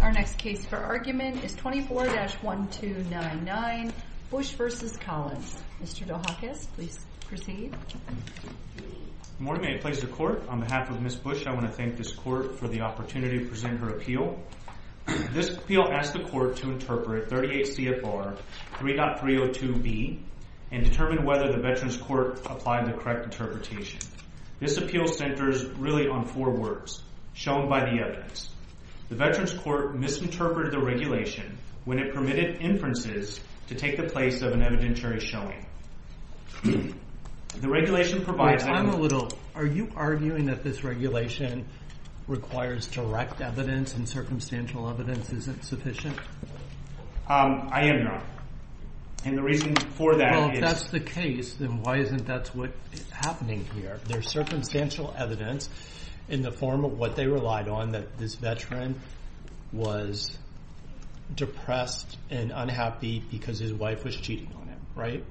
Our next case for argument is 24-1299 Bush v. Collins. Mr. Dohakis, please proceed. Good morning. I place the court on behalf of Ms. Bush. I want to thank this court for the opportunity to present her appeal. This appeal asks the court to interpret 38 CFR 3.302B and determine whether the Veterans Court applied the correct interpretation. This appeal centers really on four words, shown by the evidence. The Veterans Court misinterpreted the regulation when it permitted inferences to take the place of an evidentiary showing. The regulation provides... Wait, time a little. Are you arguing that this regulation requires direct evidence and circumstantial evidence isn't sufficient? I am not. And the reason for that is... There's circumstantial evidence in the form of what they relied on, that this veteran was depressed and unhappy because his wife was cheating on him, right?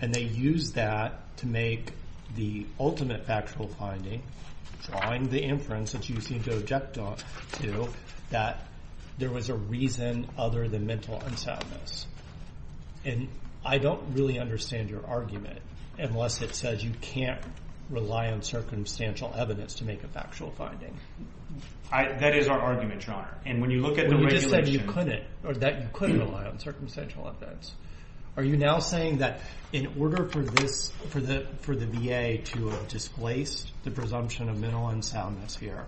And they used that to make the ultimate factual finding, drawing the inference that you seem to object to, that there was a reason other than mental unsoundness. And I don't really understand your argument unless it says you can't rely on circumstantial evidence to make a factual finding. That is our argument, Your Honor. And when you look at the regulation... You just said you couldn't rely on circumstantial evidence. Are you now saying that in order for the VA to have displaced the presumption of mental unsoundness here,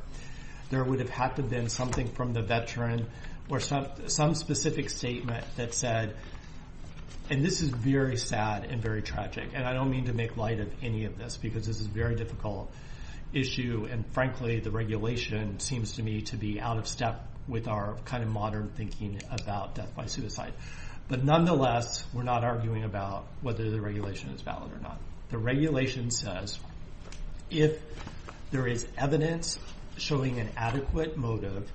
there would have had to have been something from the veteran or some specific statement that said... And this is very sad and very tragic, and I don't mean to make light of any of this because this is a very difficult issue. And frankly, the regulation seems to me to be out of step with our kind of modern thinking about death by suicide. But nonetheless, we're not arguing about whether the regulation is valid or not. The regulation says if there is evidence showing an adequate motive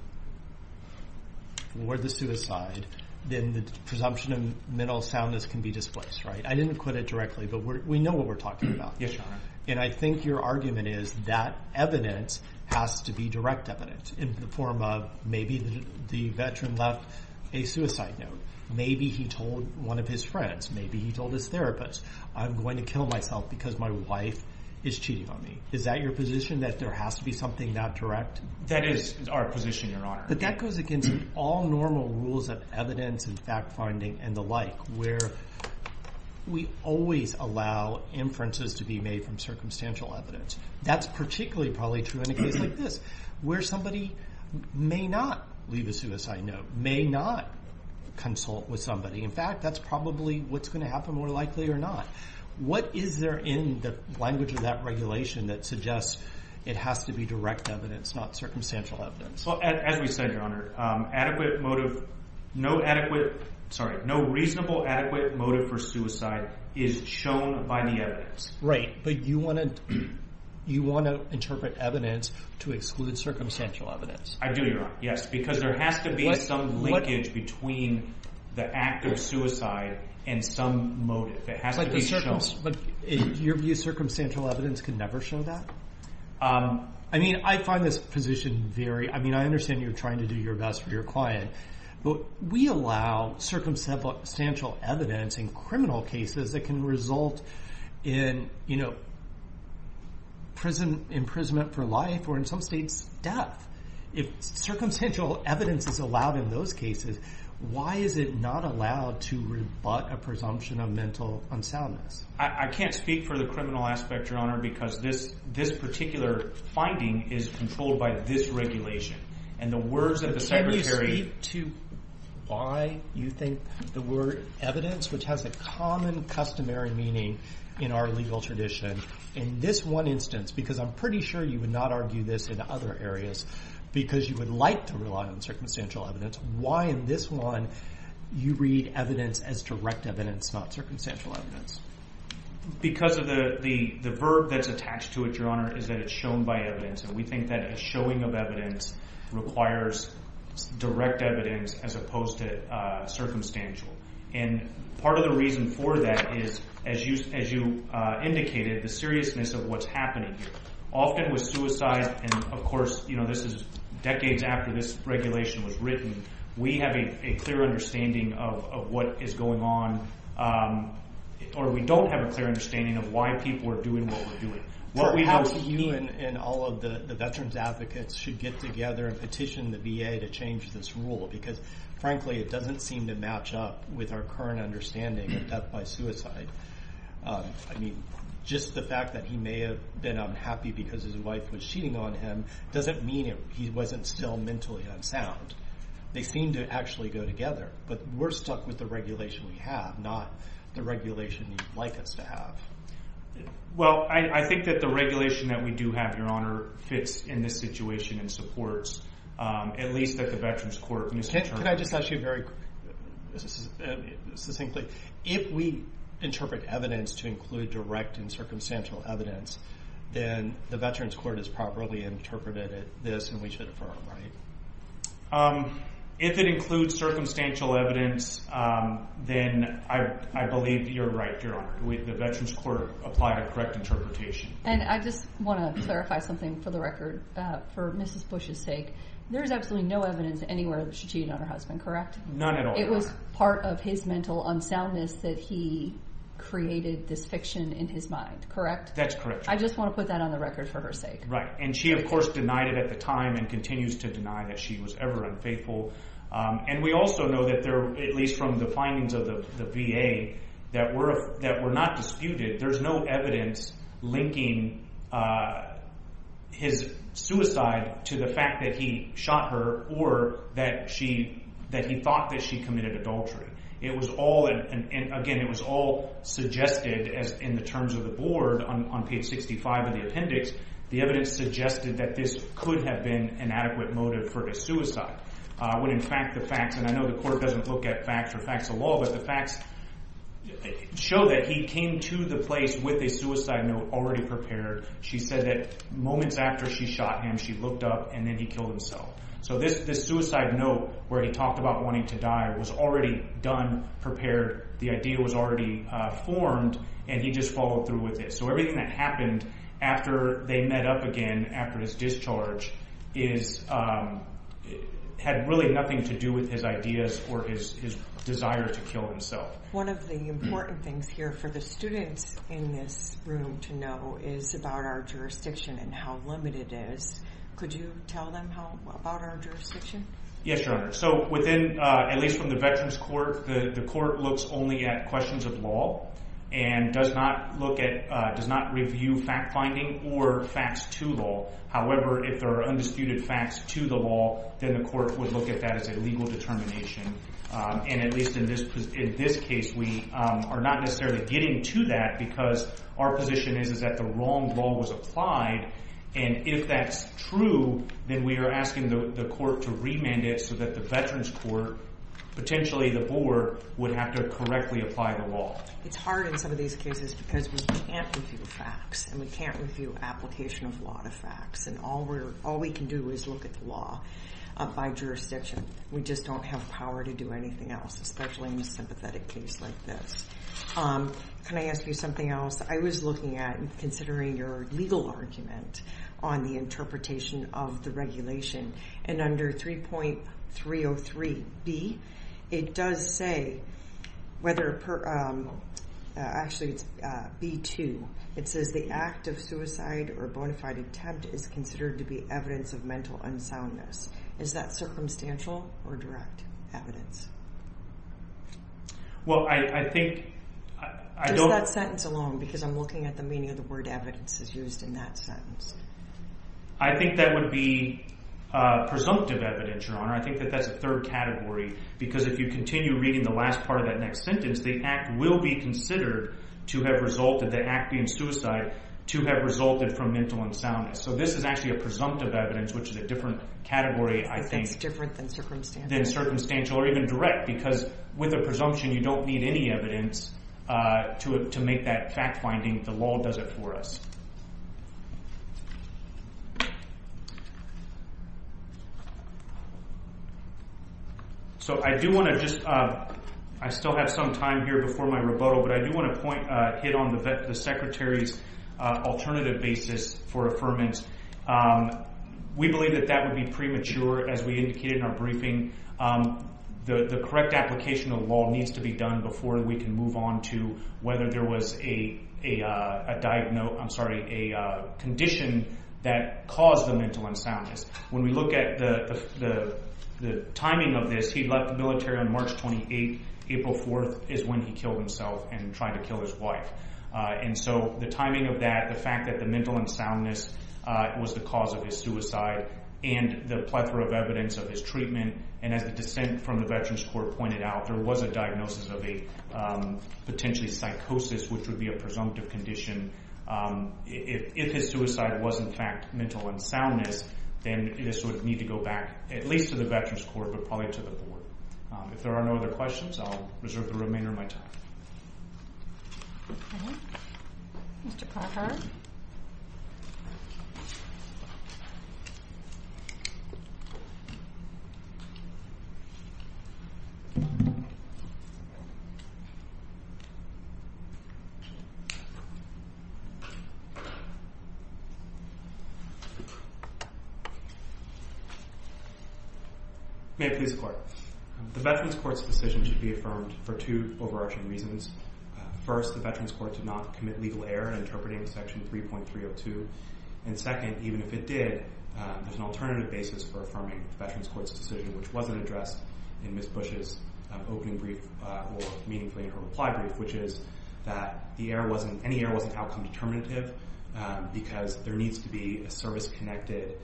for the suicide, then the presumption of mental soundness can be displaced, right? I didn't put it directly, but we know what we're talking about. Yes, Your Honor. And I think your argument is that evidence has to be direct evidence in the form of maybe the veteran left a suicide note. Maybe he told one of his friends. Maybe he told his therapist, I'm going to kill myself because my wife is cheating on me. Is that your position, that there has to be something that direct? That is our position, Your Honor. But that goes against all normal rules of evidence and fact-finding and the like, where we always allow inferences to be made from circumstantial evidence. That's particularly probably true in a case like this, where somebody may not leave a suicide note, may not consult with somebody. In fact, that's probably what's going to happen, more likely or not. What is there in the language of that regulation that suggests it has to be direct evidence, not circumstantial evidence? Well, as we said, Your Honor, adequate motive – no reasonable adequate motive for suicide is shown by the evidence. Right, but you want to interpret evidence to exclude circumstantial evidence. I do, Your Honor, yes, because there has to be some linkage between the act of suicide and some motive. It has to be shown. But in your view, circumstantial evidence can never show that? I mean, I find this position very – I mean, I understand you're trying to do your best for your client. But we allow circumstantial evidence in criminal cases that can result in prison imprisonment for life or in some states death. If circumstantial evidence is allowed in those cases, why is it not allowed to rebut a presumption of mental unsoundness? I can't speak for the criminal aspect, Your Honor, because this particular finding is controlled by this regulation. But can you speak to why you think the word evidence, which has a common customary meaning in our legal tradition, in this one instance – because I'm pretty sure you would not argue this in other areas because you would like to rely on circumstantial evidence – why in this one you read evidence as direct evidence, not circumstantial evidence? Because of the verb that's attached to it, Your Honor, is that it's shown by evidence. And we think that a showing of evidence requires direct evidence as opposed to circumstantial. And part of the reason for that is, as you indicated, the seriousness of what's happening here. Often with suicide – and, of course, this is decades after this regulation was written – we have a clear understanding of what is going on. Or we don't have a clear understanding of why people are doing what we're doing. Perhaps you and all of the veterans advocates should get together and petition the VA to change this rule. Because, frankly, it doesn't seem to match up with our current understanding of death by suicide. I mean, just the fact that he may have been unhappy because his wife was cheating on him doesn't mean he wasn't still mentally unsound. They seem to actually go together. But we're stuck with the regulation we have, not the regulation you'd like us to have. Well, I think that the regulation that we do have, Your Honor, fits in this situation and supports, at least at the Veterans Court. Could I just ask you very succinctly, if we interpret evidence to include direct and circumstantial evidence, then the Veterans Court has properly interpreted this and we should affirm, right? If it includes circumstantial evidence, then I believe you're right, Your Honor. The Veterans Court applied a correct interpretation. And I just want to clarify something for the record. For Mrs. Bush's sake, there is absolutely no evidence anywhere that she cheated on her husband, correct? None at all. It was part of his mental unsoundness that he created this fiction in his mind, correct? That's correct. I just want to put that on the record for her sake. Right. And she, of course, denied it at the time and continues to deny that she was ever unfaithful. And we also know that there are, at least from the findings of the VA, that were not disputed. There's no evidence linking his suicide to the fact that he shot her or that he thought that she committed adultery. It was all—and again, it was all suggested in the terms of the board on page 65 of the appendix. The evidence suggested that this could have been an adequate motive for the suicide when, in fact, the facts— and I know the court doesn't look at facts or facts of law, but the facts show that he came to the place with a suicide note already prepared. She said that moments after she shot him, she looked up, and then he killed himself. So this suicide note where he talked about wanting to die was already done, prepared. The idea was already formed, and he just followed through with it. So everything that happened after they met up again after his discharge had really nothing to do with his ideas or his desire to kill himself. One of the important things here for the students in this room to know is about our jurisdiction and how limited it is. Could you tell them about our jurisdiction? Yes, Your Honor. So within—at least from the Veterans Court, the court looks only at questions of law and does not look at—does not review fact-finding or facts to law. However, if there are undisputed facts to the law, then the court would look at that as a legal determination. And at least in this case, we are not necessarily getting to that because our position is that the wrong law was applied. And if that's true, then we are asking the court to remand it so that the Veterans Court, potentially the board, would have to correctly apply the law. It's hard in some of these cases because we can't review facts, and we can't review application of law to facts. And all we can do is look at the law by jurisdiction. We just don't have power to do anything else, especially in a sympathetic case like this. Can I ask you something else? I was looking at and considering your legal argument on the interpretation of the regulation. And under 3.303B, it does say whether—actually, it's B2. It says the act of suicide or bona fide attempt is considered to be evidence of mental unsoundness. Is that circumstantial or direct evidence? Well, I think— Just that sentence alone because I'm looking at the meaning of the word evidence is used in that sentence. I think that would be presumptive evidence, Your Honor. I think that that's a third category because if you continue reading the last part of that next sentence, the act will be considered to have resulted, the act being suicide, to have resulted from mental unsoundness. So this is actually a presumptive evidence, which is a different category, I think. It's different than circumstantial. It's different than circumstantial or even direct because with a presumption, you don't need any evidence to make that fact-finding. The law does it for us. So I do want to just—I still have some time here before my rebuttal, but I do want to point—hit on the Secretary's alternative basis for affirmance. We believe that that would be premature. As we indicated in our briefing, the correct application of the law needs to be done before we can move on to whether there was a condition that caused the mental unsoundness. When we look at the timing of this, he left the military on March 28th. April 4th is when he killed himself and tried to kill his wife. So the timing of that, the fact that the mental unsoundness was the cause of his suicide and the plethora of evidence of his treatment, and as the dissent from the Veterans Court pointed out, there was a diagnosis of a potentially psychosis, which would be a presumptive condition. If his suicide was, in fact, mental unsoundness, then this would need to go back at least to the Veterans Court but probably to the board. If there are no other questions, I'll reserve the remainder of my time. Okay. Mr. Clarkhart. May it please the Court. The Veterans Court's decision should be affirmed for two overarching reasons. First, the Veterans Court did not commit legal error in interpreting Section 3.302. And second, even if it did, there's an alternative basis for affirming the Veterans Court's decision, which wasn't addressed in Ms. Bush's opening brief or meaningfully in her reply brief, which is that any error wasn't outcome determinative because there needs to be a service-connected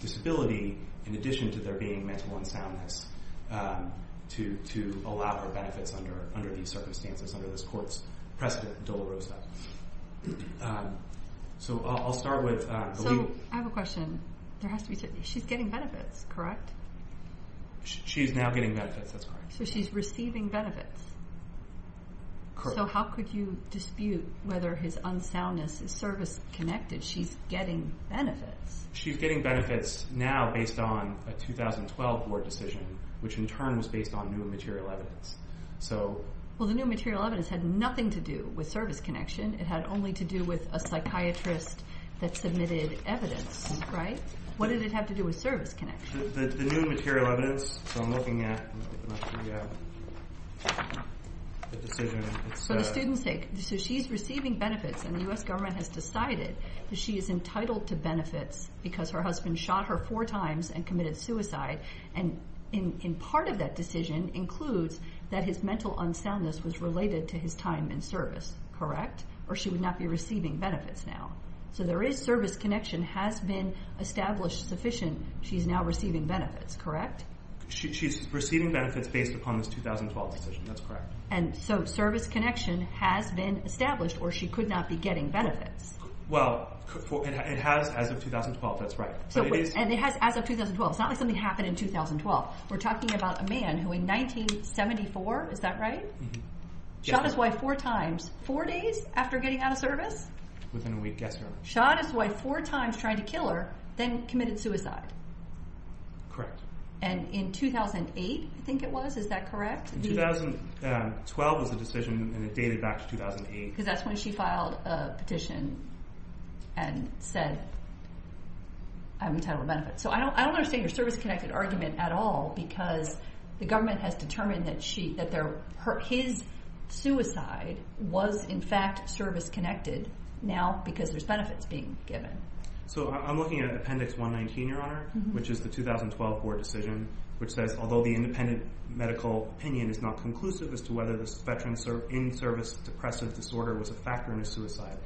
disability in addition to there being mental unsoundness to allow for benefits under these circumstances, under this Court's precedent, Dolorosa. So I'll start with the legal... So I have a question. There has to be... She's getting benefits, correct? She's now getting benefits. That's correct. So she's receiving benefits. Correct. So how could you dispute whether his unsoundness is service-connected? She's getting benefits. She's getting benefits now based on a 2012 Board decision, which in turn was based on new material evidence. Well, the new material evidence had nothing to do with service connection. It had only to do with a psychiatrist that submitted evidence, right? What did it have to do with service connection? The new material evidence, so I'm looking at the decision... For the student's sake. So she's receiving benefits, and the U.S. government has decided that she is entitled to benefits because her husband shot her four times and committed suicide, and part of that decision includes that his mental unsoundness was related to his time in service, correct? Or she would not be receiving benefits now. So there is service connection has been established sufficient. She's now receiving benefits, correct? She's receiving benefits based upon this 2012 decision. That's correct. And so service connection has been established, or she could not be getting benefits. Well, it has as of 2012. That's right. And it has as of 2012. It's not like something happened in 2012. We're talking about a man who in 1974, is that right? Mm-hmm. Shot his wife four times, four days after getting out of service? Within a week, yes, ma'am. Shot his wife four times trying to kill her, then committed suicide. Correct. And in 2008, I think it was, is that correct? 2012 was the decision, and it dated back to 2008. Because that's when she filed a petition and said, I'm entitled to benefits. So I don't understand your service-connected argument at all because the government has determined that his suicide was in fact service-connected now because there's benefits being given. So I'm looking at Appendix 119, Your Honor, which is the 2012 board decision, which says, although the independent medical opinion is not conclusive as to whether this veteran in service depressive disorder was a factor in his suicide,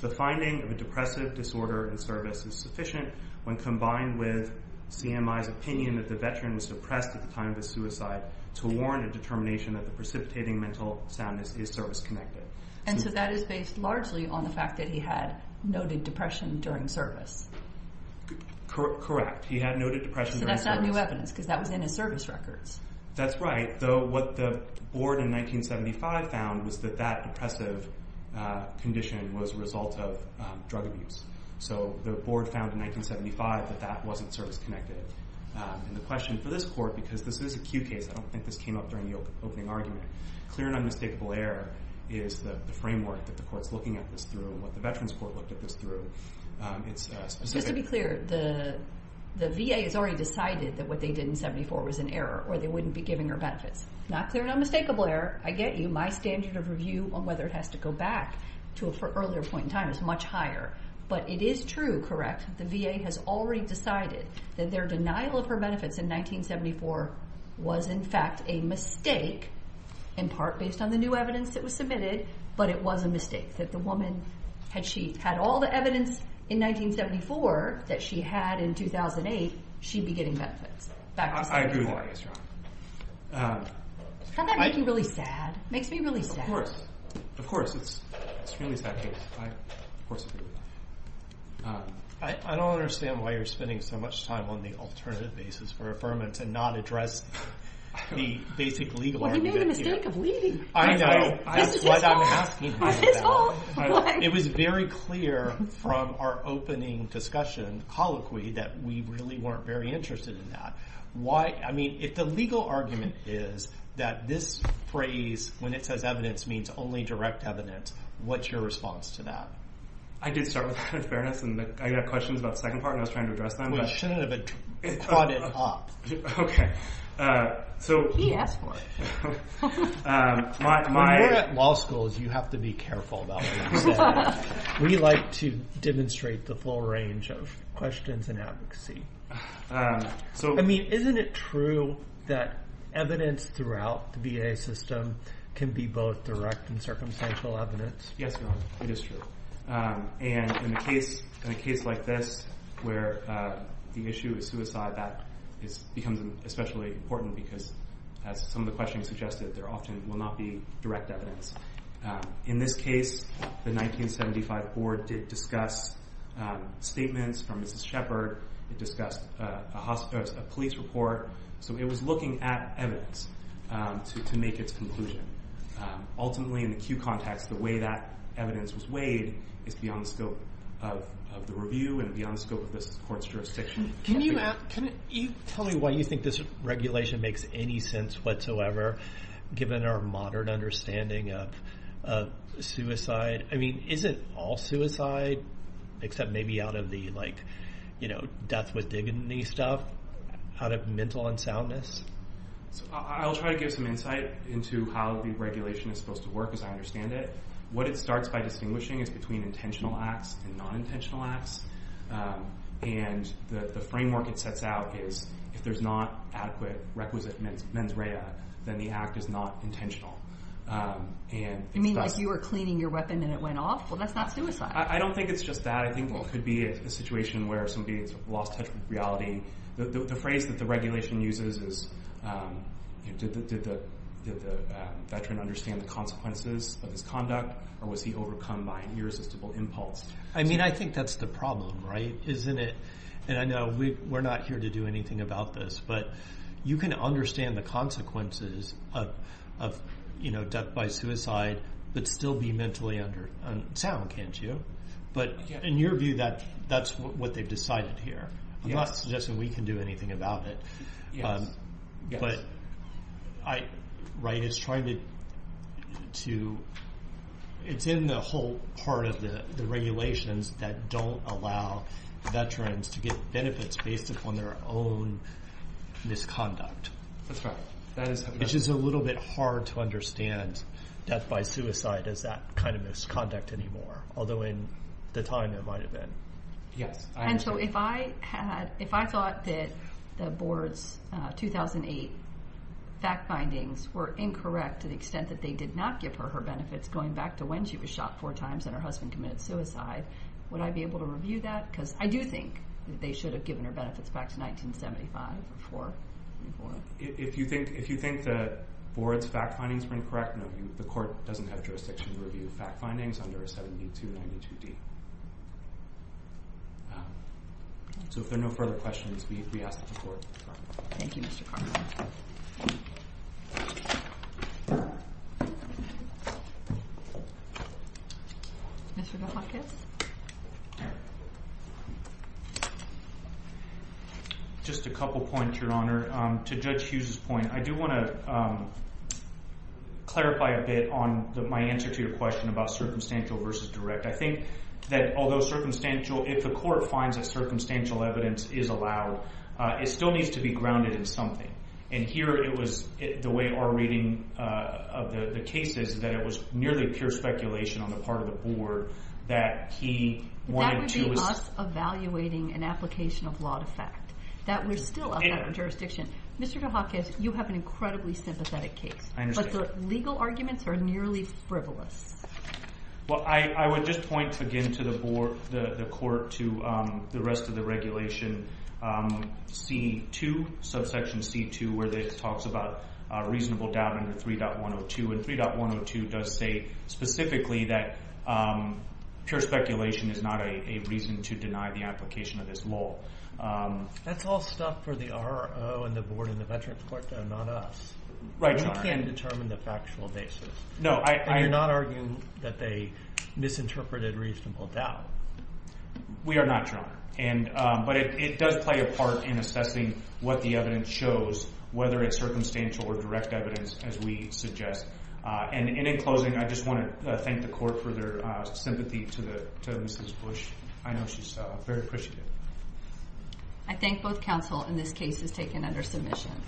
the finding of a depressive disorder in service is sufficient when combined with CMI's opinion that the veteran was depressed at the time of his suicide to warn a determination that the precipitating mental soundness is service-connected. And so that is based largely on the fact that he had noted depression during service. Correct. He had noted depression during service. So that's not new evidence because that was in his service records. That's right, though what the board in 1975 found was that that depressive condition was a result of drug abuse. So the board found in 1975 that that wasn't service-connected. And the question for this court, because this is a Q case, I don't think this came up during the opening argument, clear and unmistakable error is the framework that the court's looking at this through and what the Veterans Court looked at this through. Just to be clear, the VA has already decided that what they did in 74 was an error or they wouldn't be giving her benefits. Not clear and unmistakable error, I get you. My standard of review on whether it has to go back to an earlier point in time is much higher. But it is true, correct, the VA has already decided that their denial of her benefits in 1974 was in fact a mistake in part based on the new evidence that was submitted, but it was a mistake. That the woman, had she had all the evidence in 1974 that she had in 2008, she'd be getting benefits back to 74. I agree with that case, Your Honor. Doesn't that make you really sad? It makes me really sad. Of course. Of course, it's really that case. I, of course, agree with that. I don't understand why you're spending so much time on the alternative basis for affirmants and not address the basic legal argument here. Well, you made the mistake of leaving. I know. This is his fault. This is his fault. It was very clear from our opening discussion, colloquy, that we really weren't very interested in that. Why, I mean, if the legal argument is that this phrase, when it says evidence, means only direct evidence, what's your response to that? I did start with her in fairness, and I got questions about the second part, and I was trying to address them. Well, you shouldn't have brought it up. Okay. He asked for it. When you're at law school, you have to be careful about these things. We like to demonstrate the full range of questions and advocacy. I mean, isn't it true that evidence throughout the VA system can be both direct and circumstantial evidence? Yes, it is true. In a case like this where the issue is suicide, that becomes especially important because, as some of the questions suggested, there often will not be direct evidence. In this case, the 1975 board did discuss statements from Mrs. Shepard. It discussed a police report. So it was looking at evidence to make its conclusion. Ultimately, in the Q context, the way that evidence was weighed is beyond the scope of the review and beyond the scope of this court's jurisdiction. Can you tell me why you think this regulation makes any sense whatsoever, given our modern understanding of suicide? I mean, is it all suicide, except maybe out of the, like, you know, death with dignity stuff, out of mental unsoundness? I'll try to give some insight into how the regulation is supposed to work, as I understand it. What it starts by distinguishing is between intentional acts and nonintentional acts. And the framework it sets out is if there's not adequate requisite mens rea, then the act is not intentional. You mean like you were cleaning your weapon and it went off? Well, that's not suicide. I don't think it's just that. I think it could be a situation where somebody has lost touch with reality. The phrase that the regulation uses is, did the veteran understand the consequences of his conduct or was he overcome by an irresistible impulse? I mean, I think that's the problem, right? Isn't it? And I know we're not here to do anything about this, but you can understand the consequences of death by suicide, but still be mentally unsound, can't you? But in your view, that's what they've decided here. I'm not suggesting we can do anything about it. Yes. But it's in the whole part of the regulations that don't allow veterans to get benefits based upon their own misconduct. That's right. Which is a little bit hard to understand. Death by suicide is that kind of misconduct anymore, although in the time it might have been. Yes. And so if I thought that the board's 2008 fact findings were incorrect to the extent that they did not give her her benefits going back to when she was shot four times and her husband committed suicide, would I be able to review that? Because I do think that they should have given her benefits back to 1975 or before. If you think the board's fact findings were incorrect, no, the court doesn't have jurisdiction to review fact findings under a 7292D. So if there are no further questions, we ask that the court defer. Thank you, Mr. Carman. Mr. DeHakis. Just a couple points, Your Honor. To Judge Hughes' point, I do want to clarify a bit on my answer to your question about circumstantial versus direct. I think that although circumstantial, if the court finds that circumstantial evidence is allowed, it still needs to be grounded in something. And here it was the way our reading of the case is that it was nearly pure speculation on the part of the board that he wanted to That would be us evaluating an application of law to fact. That was still out of our jurisdiction. Mr. DeHakis, you have an incredibly sympathetic case. But the legal arguments are nearly frivolous. Well, I would just point again to the court to the rest of the regulation, C2, subsection C2, where it talks about reasonable doubt under 3.102. And 3.102 does say specifically that pure speculation is not a reason to deny the application of this law. That's all stuff for the RO and the board in the Veterans Court, though, not us. Right, Your Honor. We can't determine the factual basis. And you're not arguing that they misinterpreted reasonable doubt. We are not, Your Honor. But it does play a part in assessing what the evidence shows, whether it's circumstantial or direct evidence, as we suggest. And in closing, I just want to thank the court for their sympathy to Mrs. Bush. I know she's very appreciative. I thank both counsel in this case as taken under submission.